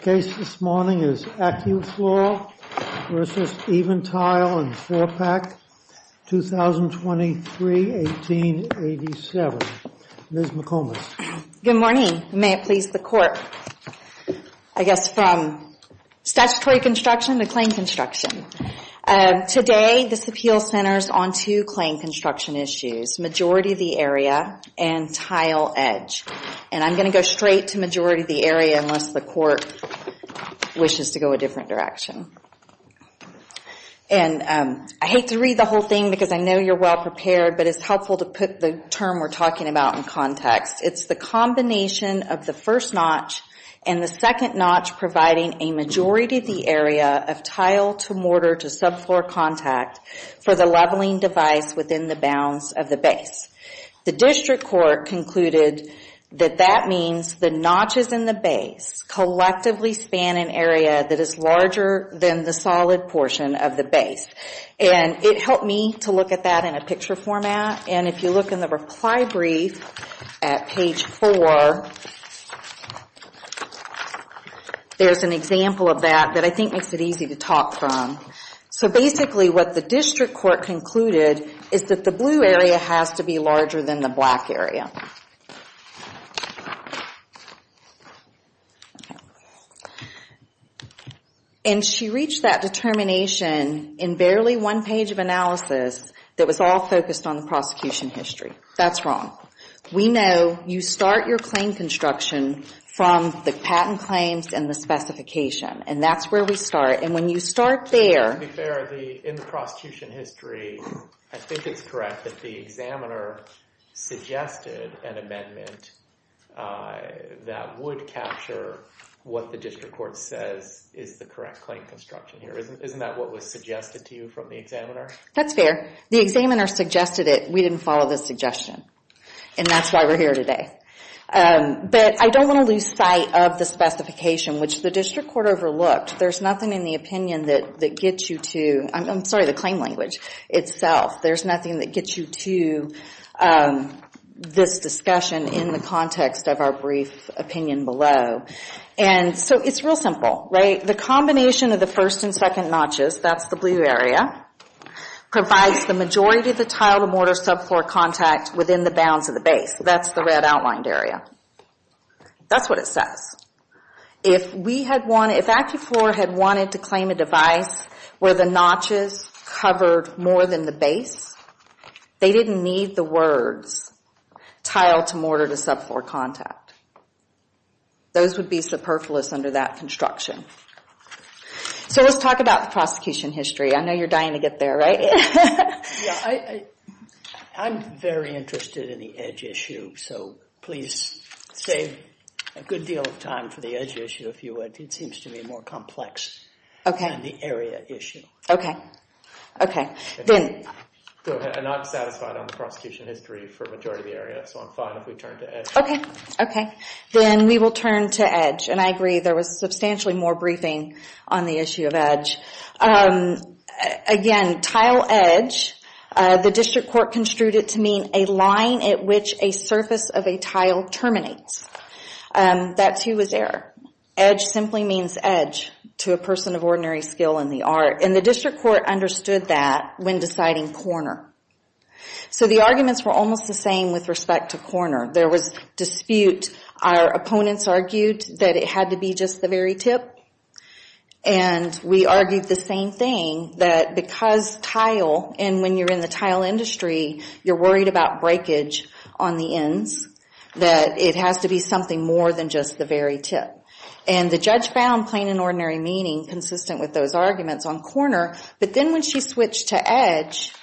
The case this morning is Acufloor v. EvenTile and 4PAC, 2023-1887. Ms. McComas. Good morning. May it please the Court. I guess from statutory construction to claim construction. Today this appeal centers on two claim construction issues, majority of the area and tile edge. I'm going to go straight to majority of the area unless the Court wishes to go a different direction. I hate to read the whole thing because I know you're well prepared, but it's helpful to put the term we're talking about in context. It's the combination of the first notch and the second notch providing a majority of the area of tile to mortar to subfloor contact for the leveling device within the bounds of the base. The District Court concluded that that means the notches in the base collectively span an area that is larger than the solid portion of the base. It helped me to look at that in a picture format. If you look in the reply brief at page 4, there's an example of that that I think makes it easy to talk from. Basically what the District Court concluded is that the blue area has to be larger than the black area. She reached that determination in barely one page of analysis that was all focused on the prosecution history. That's wrong. We know you start your claim construction from the patent claims and the specification. That's where we start. When you start there... To be fair, in the prosecution history, I think it's correct that the examiner suggested an amendment that would capture what the District Court says is the correct claim construction. Isn't that what was suggested to you from the examiner? That's fair. The examiner suggested it. We didn't follow the suggestion. That's why we're here today. I don't want to lose sight of the specification, which the District Court overlooked. There's nothing in the opinion that gets you to... I'm sorry, the claim language itself. There's nothing that gets you to this discussion in the context of our brief opinion below. It's real simple. The combination of the first and second notches, that's the blue area, provides the majority of the tile-to-mortar subfloor contact within the bounds of the base. That's the red outlined area. That's what it says. If AccuFloor had wanted to claim a device where the notches covered more than the base, they didn't need the words tile-to-mortar-to-subfloor contact. Those would be superfluous under that construction. Let's talk about the prosecution history. I know you're dying to get there, right? I'm very interested in the edge issue. Please save a good deal of time for the edge issue if you would. It seems to be more complex than the area issue. I'm not satisfied on the prosecution history for the majority of the area, so I'm fine if we turn to edge. Then we will turn to edge. I agree, there was substantially more briefing on the issue of edge. Again, tile-edge, the district court construed it to mean a line at which a surface of a tile terminates. That, too, was error. Edge simply means edge to a person of ordinary skill in the art. The district court understood that when deciding corner. The arguments were almost the same with respect to corner. There was dispute. Our opponents argued that it had to be just the very tip. We argued the same thing, that because tile, and when you're in the tile industry, you're worried about breakage on the ends, that it has to be something more than just the very tip. The judge found plain and ordinary meaning consistent with those arguments on corner, but then when she switched to edge,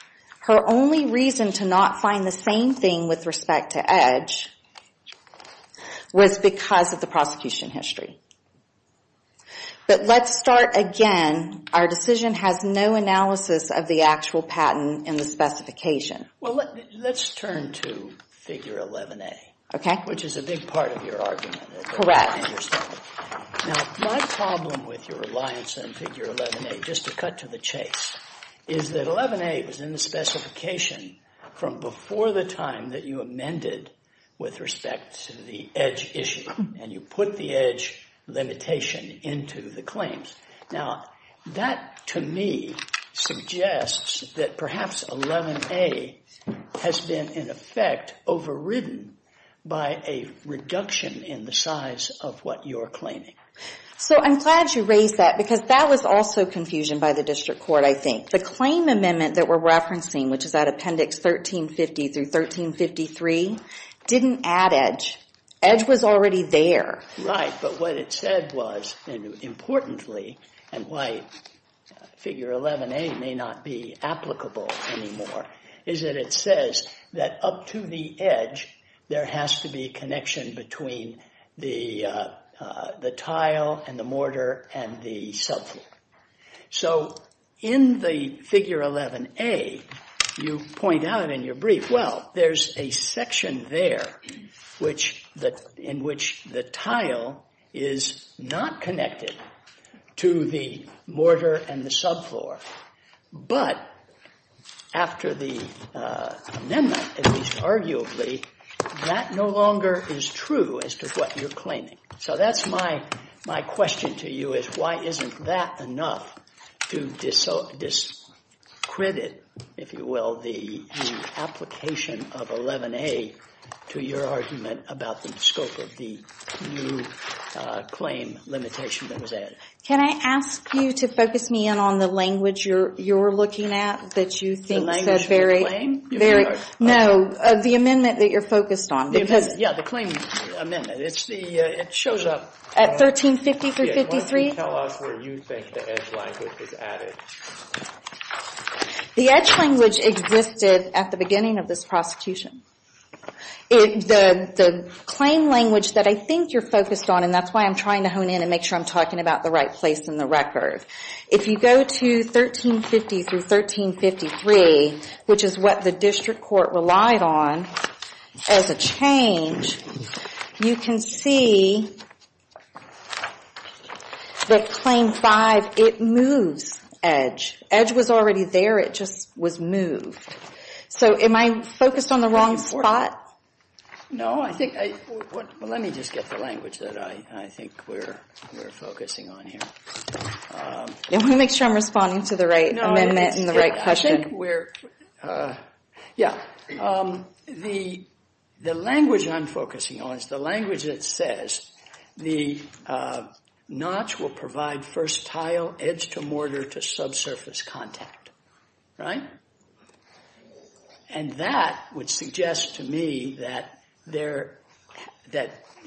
her only reason to not find the same thing with respect to edge was because of the prosecution history. But let's start again. Our decision has no analysis of the actual patent in the specification. Well, let's turn to Figure 11A, which is a big part of your argument. Correct. Now, my problem with your reliance on Figure 11A, just to cut to the chase, is that 11A was in the specification from before the time that you amended with respect to the edge issue, and you put the edge limitation into the claims. Now, that, to me, suggests that perhaps 11A has been, in effect, overridden by a reduction in the size of what you're claiming. So I'm glad you raised that, because that was also confusion by the district court, I think. The claim amendment that we're referencing, which is at Appendix 1350 through 1353, didn't add edge. Edge was already there. Right, but what it said was, and importantly, and why Figure 11A may not be applicable anymore, is that it says that up to the edge, there has to be a connection between the tile and the mortar and the subfloor. So in the Figure 11A, you point out in your brief, well, there's a section there in which the tile is not connected to the mortar and the subfloor, but after the amendment, at least arguably, that no longer is true as to what you're claiming. So that's my question to you, is why isn't that enough to discredit, if you will, the application of 11A to your argument about the scope of the new claim limitation that was added? Can I ask you to focus me in on the language you're looking at? The language of the claim? No, the amendment that you're focused on. Yeah, the claim amendment. It shows up. At 1350 through 1353? Yeah, why don't you tell us where you think the edge language is added? The edge language existed at the beginning of this prosecution. The claim language that I think you're focused on, and that's why I'm trying to hone in and make sure I'm talking about the right place in the record. If you go to 1350 through 1353, which is what the district court relied on as a change, you can see that Claim 5, it moves edge. Edge was already there, it just was moved. So am I focused on the wrong spot? No, let me just get the language that I think we're focusing on here. I want to make sure I'm responding to the right amendment and the right question. Yeah, the language I'm focusing on is the language that says the notch will provide first tile edge to mortar to subsurface contact, right? And that would suggest to me that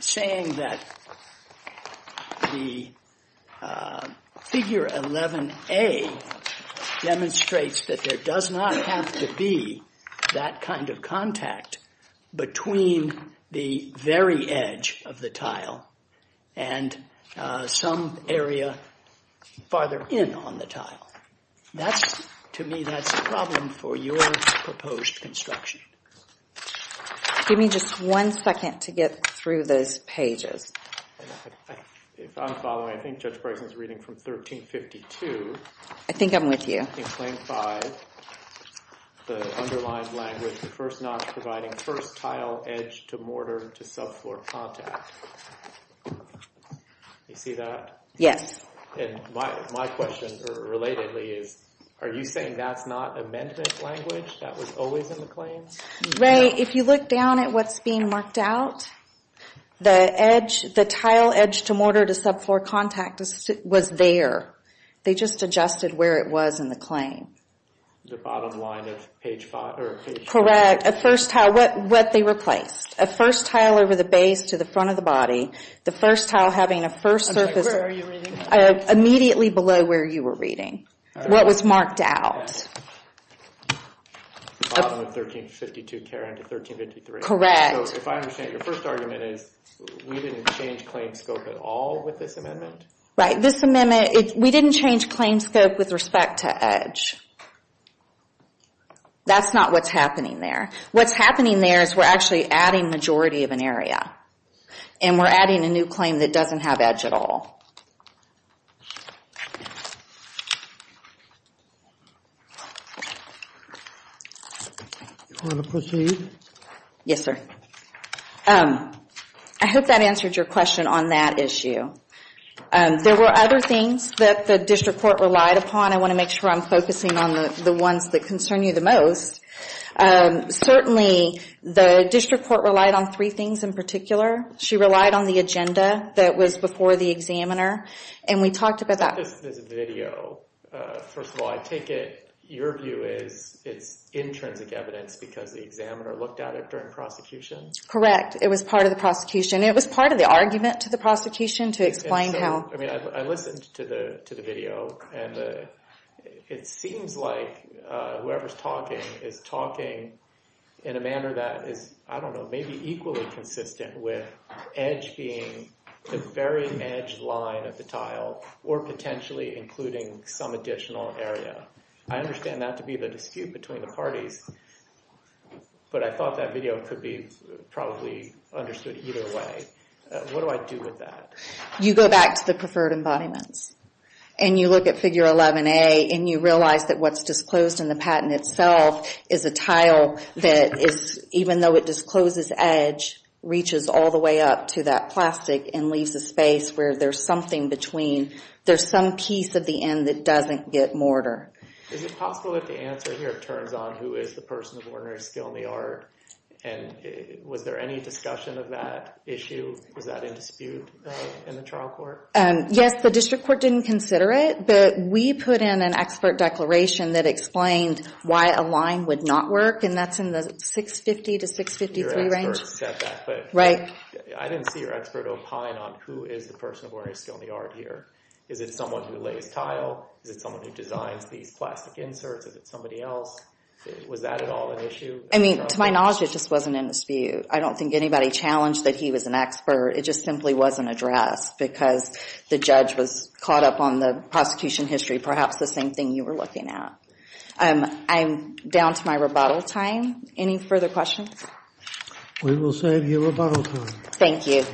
saying that the figure 11A demonstrates that there does not have to be that kind of contact between the very edge of the tile and some area farther in on the tile. To me, that's a problem for your proposed construction. Give me just one second to get through those pages. If I'm following, I think Judge Bryson's reading from 1352. I think I'm with you. In Claim 5, the underlined language, the first notch providing first tile edge to mortar to subfloor contact. You see that? Yes. My question, relatedly, is are you saying that's not amendment language that was always in the claims? Ray, if you look down at what's being marked out, the tile edge to mortar to subfloor contact was there. They just adjusted where it was in the claim. The bottom line of page 5? Correct. A first tile, what they replaced. A first tile over the base to the front of the body. The first tile having a first surface. Where are you reading? Immediately below where you were reading, what was marked out. Bottom of 1352, carry on to 1353. Correct. If I understand, your first argument is we didn't change claim scope at all with this amendment? Right. This amendment, we didn't change claim scope with respect to edge. That's not what's happening there. What's happening there is we're actually adding majority of an area. And we're adding a new claim that doesn't have edge at all. Do you want to proceed? Yes, sir. I hope that answered your question on that issue. There were other things that the district court relied upon. I want to make sure I'm focusing on the ones that concern you the most. Certainly, the district court relied on three things in particular. She relied on the agenda that was before the examiner, and we talked about that. This video, first of all, I take it your view is it's intrinsic evidence because the examiner looked at it during prosecution? Correct. It was part of the prosecution. It was part of the argument to the prosecution to explain how. I listened to the video, and it seems like whoever's talking is talking in a manner that is, I don't know, maybe equally consistent with edge being the very edge line of the tile or potentially including some additional area. I understand that to be the dispute between the parties, but I thought that video could be probably understood either way. What do I do with that? You go back to the preferred embodiments, and you look at Figure 11A, and you realize that what's disclosed in the patent itself is a tile that, even though it discloses edge, reaches all the way up to that plastic and leaves a space where there's something between. There's some piece at the end that doesn't get mortar. Is it possible that the answer here turns on who is the person of ordinary skill in the art, and was there any discussion of that issue? Was that in dispute in the trial court? Yes, the district court didn't consider it, but we put in an expert declaration that explained why a line would not work, and that's in the 650 to 653 range. I didn't see your expert opine on who is the person of ordinary skill in the art here. Is it someone who lays tile? Is it someone who designs these plastic inserts? Is it somebody else? Was that at all an issue? To my knowledge, it just wasn't in dispute. I don't think anybody challenged that he was an expert. It just simply wasn't addressed because the judge was caught up on the prosecution history, perhaps the same thing you were looking at. I'm down to my rebuttal time. Any further questions? We will save you rebuttal time. Thank you.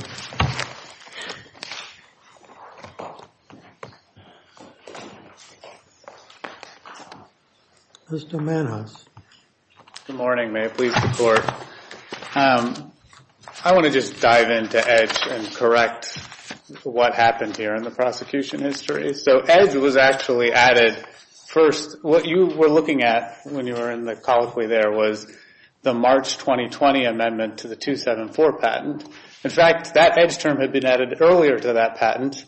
Mr. Mannhaus. Good morning. May I please report? I want to just dive into EDGE and correct what happened here in the prosecution history. So EDGE was actually added first. What you were looking at when you were in the colloquy there was the March 2020 amendment to the 274 patent. In fact, that EDGE term had been added earlier to that patent,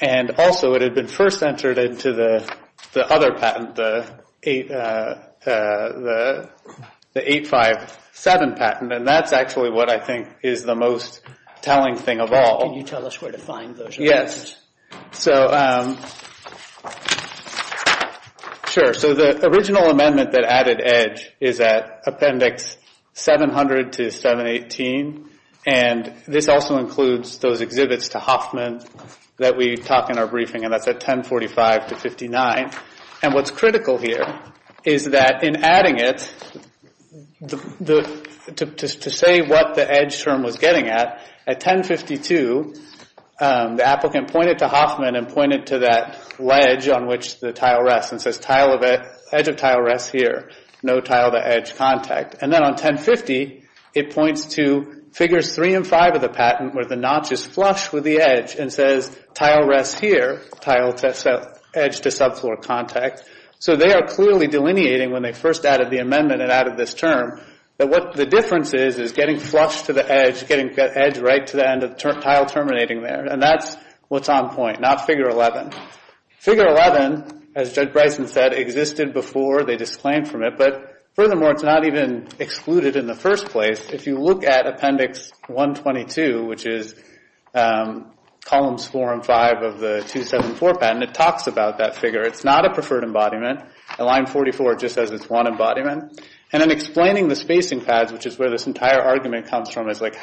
and also it had been first entered into the other patent, the 857 patent, and that's actually what I think is the most telling thing of all. Can you tell us where to find those amendments? So the original amendment that added EDGE is at Appendix 700-718, and this also includes those exhibits to Hoffman that we talk in our briefing, and that's at 1045-59. And what's critical here is that in adding it, to say what the EDGE term was getting at, at 1052 the applicant pointed to Hoffman and pointed to that ledge on which the tile rests and says, edge of tile rests here, no tile to edge contact. And then on 1050, it points to Figures 3 and 5 of the patent where the notch is flush with the edge and says, tile rests here, tile to edge to subfloor contact. So they are clearly delineating when they first added the amendment and added this term that what the difference is is getting flush to the edge, getting the edge right to the end of the tile terminating there, and that's what's on point, not Figure 11. Figure 11, as Judge Bryson said, existed before they disclaimed from it, but furthermore, it's not even excluded in the first place. If you look at Appendix 122, which is Columns 4 and 5 of the 274 patent, it talks about that figure. It's not a preferred embodiment. At line 44, it just says it's one embodiment. And in explaining the spacing pads, which is where this entire argument comes from, is like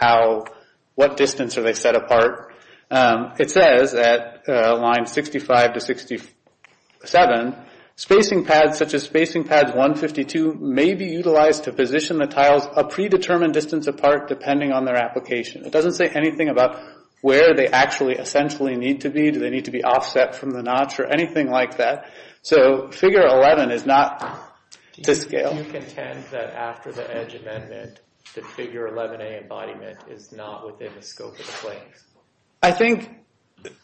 what distance are they set apart, it says at line 65 to 67, spacing pads such as spacing pads 152 may be utilized to position the tiles a predetermined distance apart depending on their application. It doesn't say anything about where they actually essentially need to be. Do they need to be offset from the notch or anything like that? So Figure 11 is not to scale. Do you contend that after the edge amendment, that Figure 11A embodiment is not within the scope of the claims? I think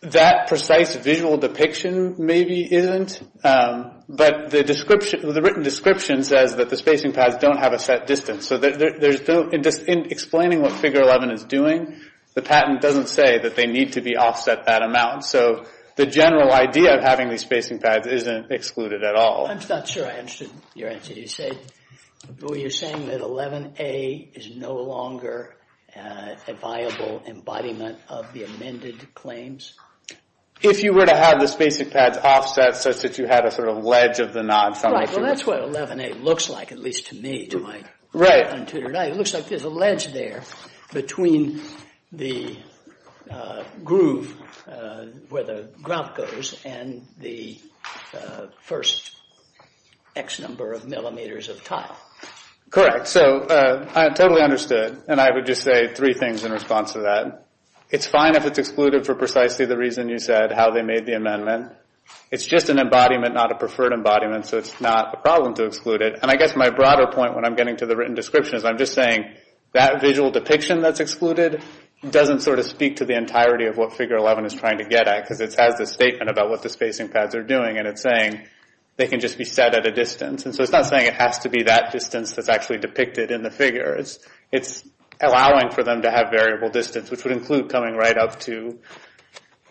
that precise visual depiction maybe isn't. But the written description says that the spacing pads don't have a set distance. So in explaining what Figure 11 is doing, the patent doesn't say that they need to be offset that amount. So the general idea of having these spacing pads isn't excluded at all. I'm not sure I understood your answer. You're saying that 11A is no longer a viable embodiment of the amended claims? If you were to have the spacing pads offset such that you had a sort of ledge of the notch. Well, that's what 11A looks like, at least to me. It looks like there's a ledge there between the groove where the grout goes and the first X number of millimeters of tile. Correct. So I totally understood. And I would just say three things in response to that. It's fine if it's excluded for precisely the reason you said, how they made the amendment. It's just an embodiment, not a preferred embodiment, so it's not a problem to exclude it. And I guess my broader point when I'm getting to the written description is I'm just saying that visual depiction that's excluded doesn't sort of speak to the entirety of what Figure 11 is trying to get at because it has this statement about what the spacing pads are doing and it's saying they can just be set at a distance. And so it's not saying it has to be that distance that's actually depicted in the figure. It's allowing for them to have variable distance, which would include coming right up to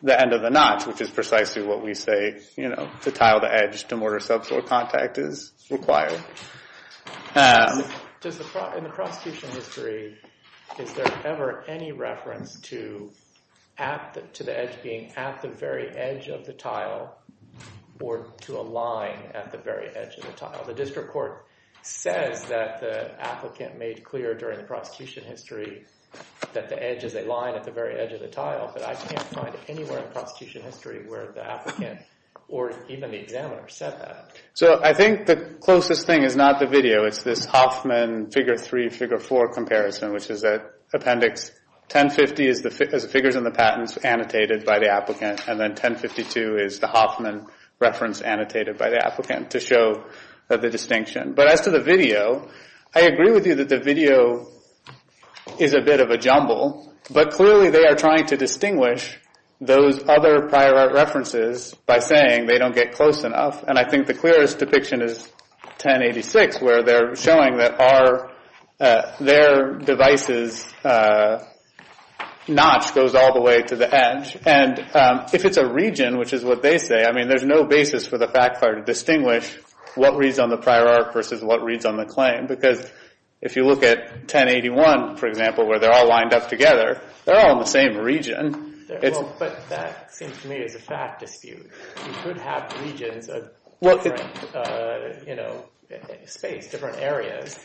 the end of the notch, which is precisely what we say to tile the edge to mortar subsoil contact is required. In the prosecution history, is there ever any reference to the edge being at the very edge of the tile or to a line at the very edge of the tile? The district court says that the applicant made clear during the prosecution history that the edge is a line at the very edge of the tile, but I can't find anywhere in the prosecution history where the applicant or even the examiner said that. So I think the closest thing is not the video. It's this Hoffman Figure 3, Figure 4 comparison, which is an appendix. 1050 is the figures and the patents annotated by the applicant, and then 1052 is the Hoffman reference annotated by the applicant to show the distinction. But as to the video, I agree with you that the video is a bit of a jumble, but clearly they are trying to distinguish those other prior art references by saying they don't get close enough. And I think the clearest depiction is 1086, where they're showing that their device's notch goes all the way to the edge. And if it's a region, which is what they say, I mean, there's no basis for the fact file to distinguish what reads on the prior art versus what reads on the claim. Because if you look at 1081, for example, where they're all lined up together, they're all in the same region. But that seems to me is a fact dispute. You could have regions of different space, different areas.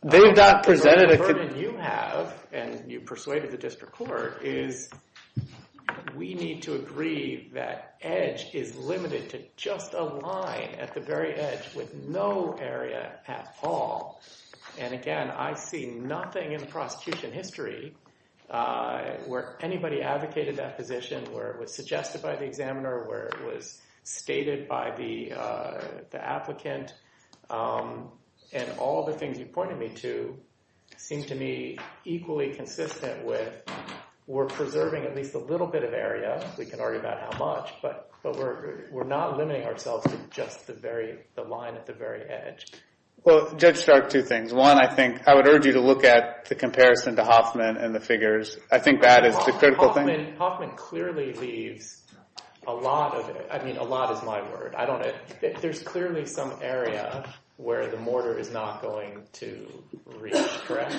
The only burden you have, and you persuaded the district court, is we need to agree that edge is limited to just a line at the very edge with no area at all. And, again, I see nothing in the prosecution history where anybody advocated that position, where it was suggested by the examiner, where it was stated by the applicant. And all the things you pointed me to seem to me equally consistent with we're preserving at least a little bit of area. We can argue about how much. But we're not limiting ourselves to just the line at the very edge. Well, Judge Stark, two things. One, I would urge you to look at the comparison to Hoffman and the figures. I think that is the critical thing. Hoffman clearly leaves a lot of it. I mean, a lot is my word. There's clearly some area where the mortar is not going to reach, correct?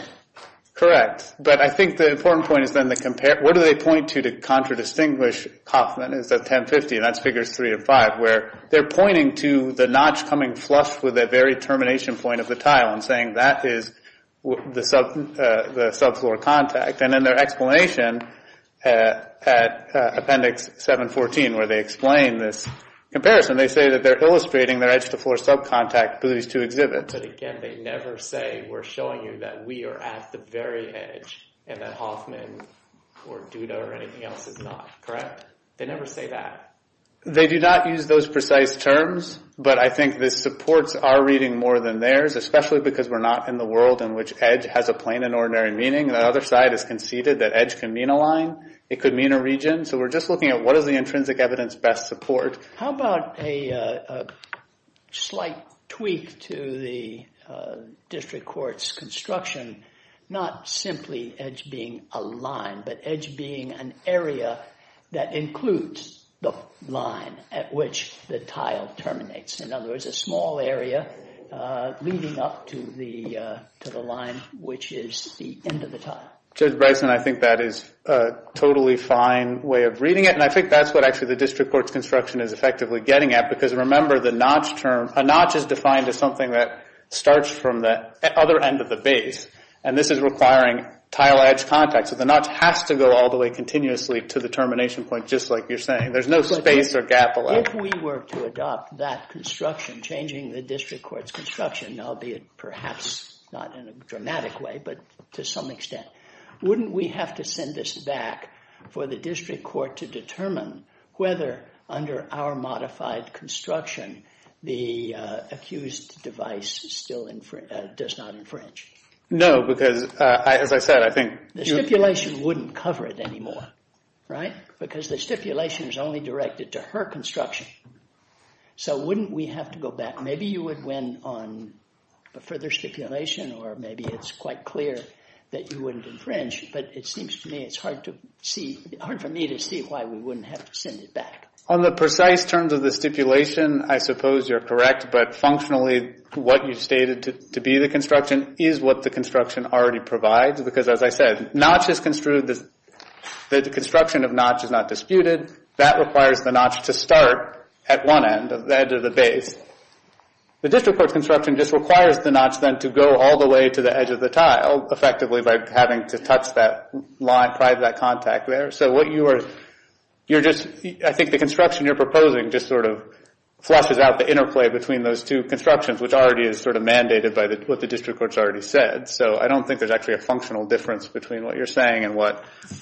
Correct. But I think the important point is then what do they point to to contradistinguish Hoffman? It's at 1050, and that's Figures 3 and 5, where they're pointing to the notch coming flush with the very termination point of the tile and saying that is the subfloor contact. And in their explanation at Appendix 714, where they explain this comparison, they say that they're illustrating their edge-to-floor subcontact through these two exhibits. But again, they never say we're showing you that we are at the very edge and that Hoffman or Duda or anything else is not, correct? They never say that. They do not use those precise terms, but I think the supports are reading more than theirs, especially because we're not in the world in which edge has a plain and ordinary meaning. The other side has conceded that edge can mean a line. It could mean a region. So we're just looking at what is the intrinsic evidence best support. How about a slight tweak to the district court's construction, not simply edge being a line, but edge being an area that includes the line at which the tile terminates. In other words, a small area leading up to the line, which is the end of the tile. Judge Bryson, I think that is a totally fine way of reading it, and I think that's what actually the district court's construction is effectively getting at, because remember a notch is defined as something that starts from the other end of the base, and this is requiring tile edge contact. So the notch has to go all the way continuously to the termination point, just like you're saying. There's no space or gap allowed. If we were to adopt that construction, changing the district court's construction, albeit perhaps not in a dramatic way, but to some extent, wouldn't we have to send this back for the district court to determine whether under our modified construction, the accused device still does not infringe? No, because as I said, I think... The stipulation wouldn't cover it anymore, right? Because the stipulation is only directed to her construction. So wouldn't we have to go back? Maybe you would win on a further stipulation, or maybe it's quite clear that you wouldn't infringe, but it seems to me it's hard for me to see why we wouldn't have to send it back. On the precise terms of the stipulation, I suppose you're correct, but functionally what you stated to be the construction is what the construction already provides, because as I said, the construction of notch is not disputed. That requires the notch to start at one end of the base. The district court's construction just requires the notch then to go all the way to the edge of the tile, effectively by having to touch that line, pry that contact there. So what you are... I think the construction you're proposing just sort of flushes out the interplay between those two constructions, which already is sort of mandated by what the district court's already said. So I don't think there's actually a functional difference between what you're saying and where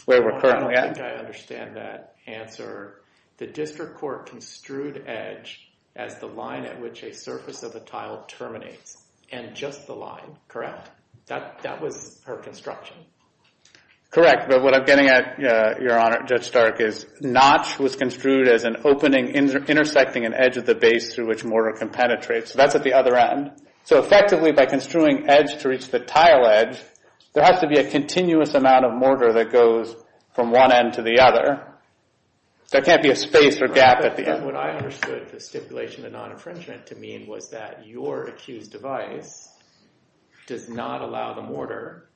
we're currently at. I don't think I understand that answer. The district court construed edge as the line at which a surface of the tile terminates, and just the line, correct? That was her construction. Correct, but what I'm getting at, Your Honor, Judge Stark, is notch was construed as an opening intersecting an edge of the base through which mortar can penetrate. So that's at the other end. So effectively, by construing edge to reach the tile edge, there has to be a continuous amount of mortar that goes from one end to the other. There can't be a space or gap at the end. What I understood the stipulation of non-infringement to mean was that your accused device does not allow the mortar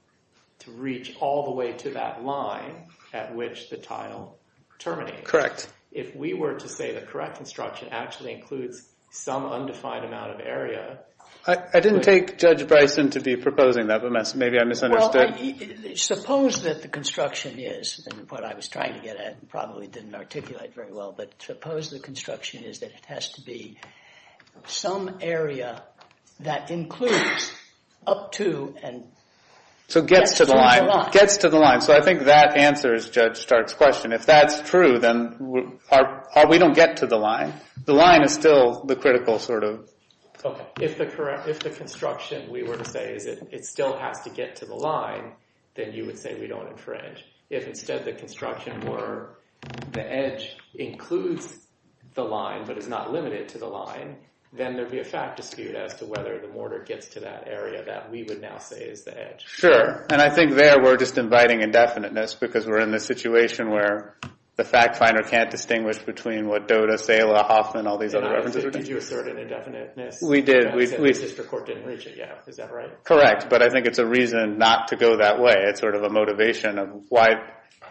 to reach all the way to that line at which the tile terminates. Correct. If we were to say the correct construction actually includes some undefined amount of area... I didn't take Judge Bryson to be proposing that, but maybe I misunderstood. Well, suppose that the construction is, and what I was trying to get at probably didn't articulate very well, but suppose the construction is that it has to be some area that includes up to and... So gets to the line. Gets to the line. So I think that answers Judge Stark's question. If that's true, then we don't get to the line. The line is still the critical sort of... Okay, if the construction, we were to say, is that it still has to get to the line, then you would say we don't infringe. If instead the construction were the edge includes the line but is not limited to the line, then there'd be a fact dispute as to whether the mortar gets to that area that we would now say is the edge. Sure. And I think there we're just inviting indefiniteness because we're in this situation where the fact finder can't distinguish between what Doda, Sala, Hoffman, all these other references... Did you assert an indefiniteness? We did. The district court didn't reach it yet, is that right? Correct, but I think it's a reason not to go that way. It's sort of a motivation of why...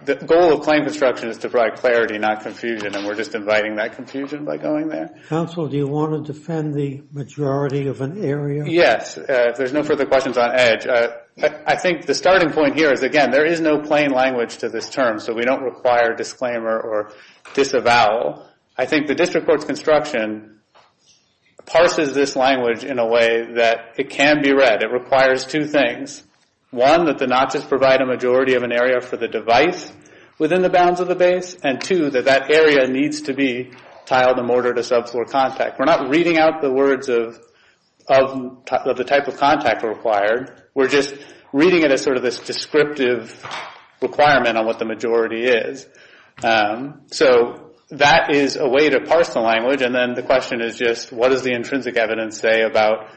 The goal of claim construction is to provide clarity, not confusion, and we're just inviting that confusion by going there. Counsel, do you want to defend the majority of an area? Yes, if there's no further questions on edge. I think the starting point here is, again, there is no plain language to this term, so we don't require disclaimer or disavow. I think the district court's construction parses this language in a way that it can be read. It requires two things. One, that the notches provide a majority of an area for the device within the bounds of the base, and two, that that area needs to be tiled and mortared to subfloor contact. We're not reading out the words of the type of contact required. We're just reading it as sort of this descriptive requirement on what the majority is. So that is a way to parse the language, and then the question is just, what does the intrinsic evidence say about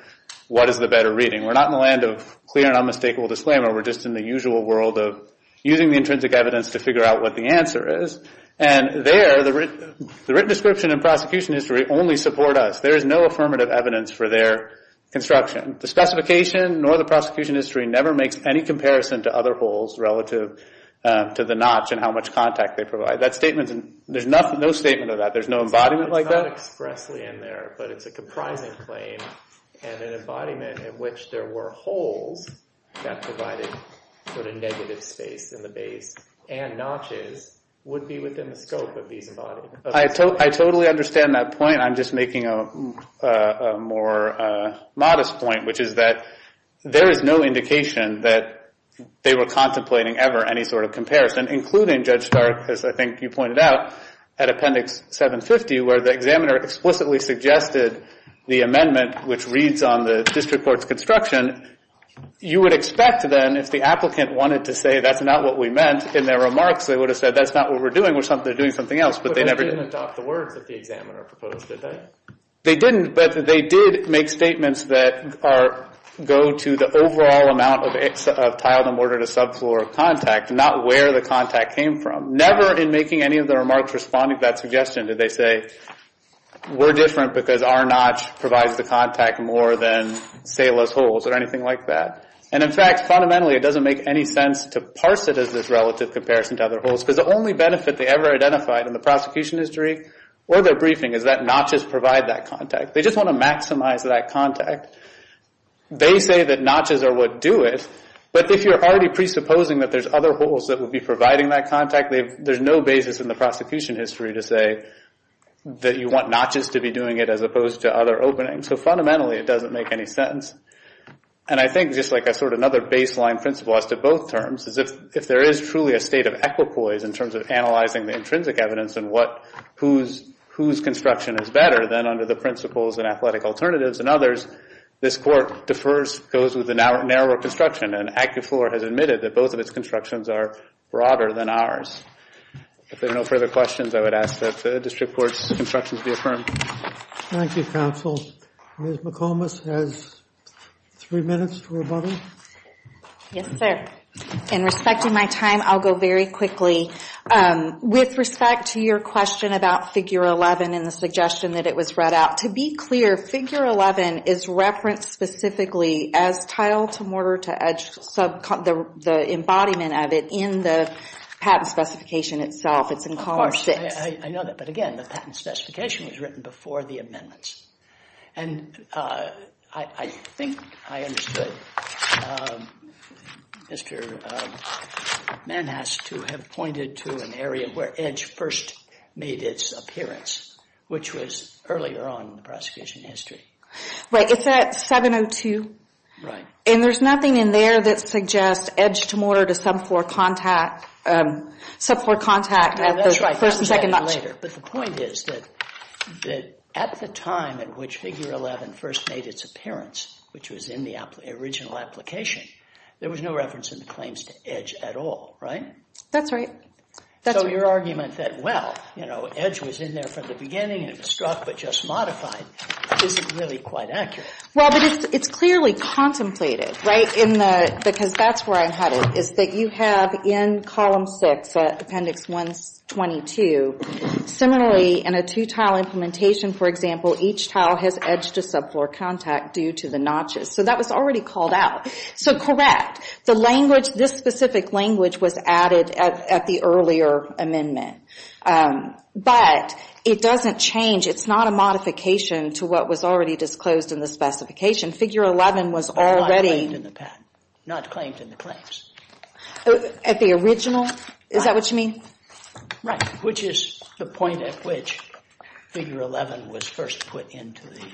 what is the better reading? We're not in the land of clear and unmistakable disclaimer. We're just in the usual world of using the intrinsic evidence to figure out what the answer is, and there, the written description and prosecution history only support us. There is no affirmative evidence for their construction. The specification nor the prosecution history never makes any comparison to other holes relative to the notch and how much contact they provide. That statement, there's no statement of that. There's no embodiment like that? It's not expressly in there, but it's a comprising claim, and an embodiment in which there were holes that provided sort of negative space in the base and notches would be within the scope of these embodiments. I totally understand that point. I'm just making a more modest point, which is that there is no indication that they were contemplating ever any sort of comparison, including Judge Stark, as I think you pointed out, at Appendix 750 where the examiner explicitly suggested the amendment which reads on the district court's construction. You would expect, then, if the applicant wanted to say that's not what we meant in their remarks, they would have said that's not what we're doing. We're doing something else, but they never did. But they didn't adopt the words that the examiner proposed, did they? They didn't, but they did make statements that go to the overall amount of tiled and mortar-to-subfloor contact, not where the contact came from. Never in making any of the remarks responding to that suggestion did they say we're different because our notch provides the contact more than Sala's holes or anything like that. And, in fact, fundamentally it doesn't make any sense to parse it as this relative comparison to other holes because the only benefit they ever identified in the prosecution history or their briefing is that notches provide that contact. They just want to maximize that contact. They say that notches are what do it, but if you're already presupposing that there's other holes that would be providing that contact, there's no basis in the prosecution history to say that you want notches to be doing it as opposed to other openings. So, fundamentally, it doesn't make any sense. And I think, just like a sort of another baseline principle as to both terms, is if there is truly a state of equipoise in terms of analyzing the intrinsic evidence and whose construction is better, then under the principles and athletic alternatives and others, this court defers, goes with the narrower construction. And ACCUFLOR has admitted that both of its constructions are broader than ours. If there are no further questions, I would ask that the district court's instructions be affirmed. Thank you, counsel. Ms. McComas has three minutes to rebuttal. Yes, sir. In respecting my time, I'll go very quickly. With respect to your question about Figure 11 and the suggestion that it was read out, to be clear, Figure 11 is referenced specifically as tile-to-mortar-to-edge, the embodiment of it, in the patent specification itself. It's in Column 6. I know that, but again, the patent specification was written before the amendments. And I think I understood. Mr. Mann has to have pointed to an area where edge first made its appearance, which was earlier on in the prosecution history. It's at 702. Right. And there's nothing in there that suggests edge-to-mortar-to-subfloor contact at the first and second notches. That's right. But the point is that at the time in which Figure 11 first made its appearance, which was in the original application, there was no reference in the claims to edge at all, right? That's right. So your argument that, well, you know, edge was in there from the beginning, and it was struck but just modified, isn't really quite accurate. Well, but it's clearly contemplated, right, because that's where I'm headed, is that you have in Column 6, Appendix 122, similarly in a two-tile implementation, for example, each tile has edge-to-subfloor contact due to the notches. So that was already called out. So correct. The language, this specific language, was added at the earlier amendment. But it doesn't change. It's not a modification to what was already disclosed in the specification. Figure 11 was already... Not claimed in the patent. Not claimed in the claims. At the original? Is that what you mean? Right. Which is the point at which Figure 11 was first put into the...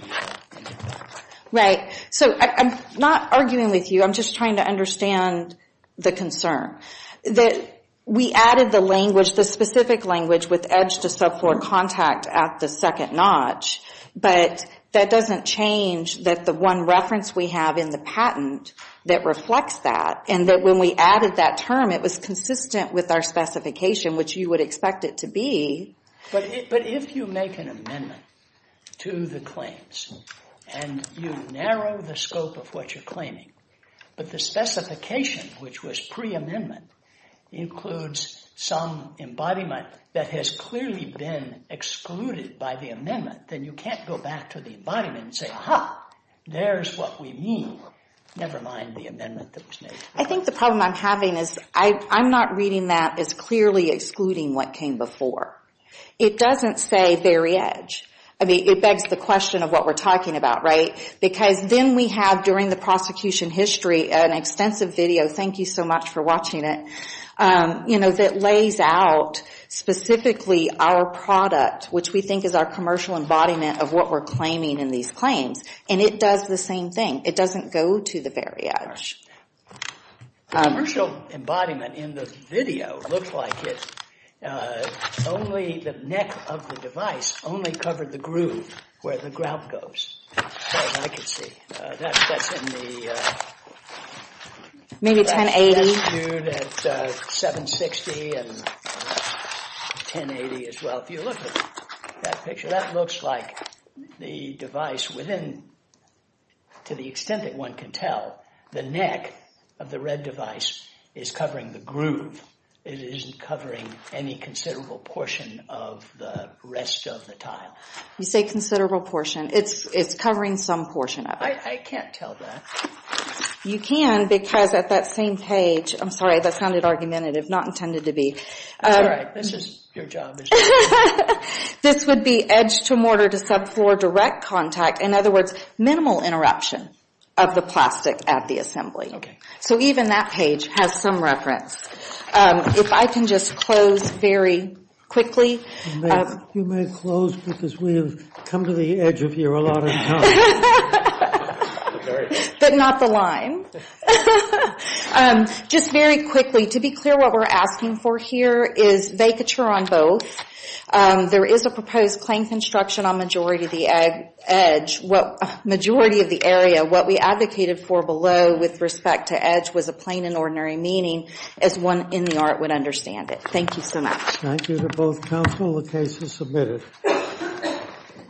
Right. So I'm not arguing with you. I'm just trying to understand the concern. That we added the language, the specific language, with edge-to-subfloor contact at the second notch, but that doesn't change that the one reference we have in the patent that reflects that, and that when we added that term, it was consistent with our specification, which you would expect it to be. But if you make an amendment to the claims and you narrow the scope of what you're claiming, but the specification, which was pre-amendment, includes some embodiment that has clearly been excluded by the amendment, then you can't go back to the embodiment and say, Aha, there's what we mean. Never mind the amendment that was made. I think the problem I'm having is I'm not reading that as clearly excluding what came before. It doesn't say very edge. I mean, it begs the question of what we're talking about, right? Because then we have, during the prosecution history, an extensive video, thank you so much for watching it, that lays out specifically our product, which we think is our commercial embodiment of what we're claiming in these claims, and it does the same thing. It doesn't go to the very edge. The commercial embodiment in the video looks like it, only the neck of the device only covered the groove where the grout goes, as far as I can see. That's in the... Maybe 1080. That's viewed at 760 and 1080 as well. If you look at that picture, that looks like the device within, to the extent that one can tell, the neck of the red device is covering the groove. It isn't covering any considerable portion of the rest of the tile. You say considerable portion. It's covering some portion of it. I can't tell that. You can because at that same page, I'm sorry, that sounded argumentative, not intended to be. That's all right. This is your job. This would be edge to mortar to subfloor direct contact. In other words, minimal interruption of the plastic at the assembly. So even that page has some reference. If I can just close very quickly. You may close because we've come to the edge of you a lot of times. But not the line. Just very quickly, to be clear, what we're asking for here is vacature on both. There is a proposed plain construction on majority of the edge. Majority of the area. What we advocated for below with respect to edge was a plain and ordinary meaning, as one in the art would understand it. Thank you so much. Thank you to both counsel. The case is submitted.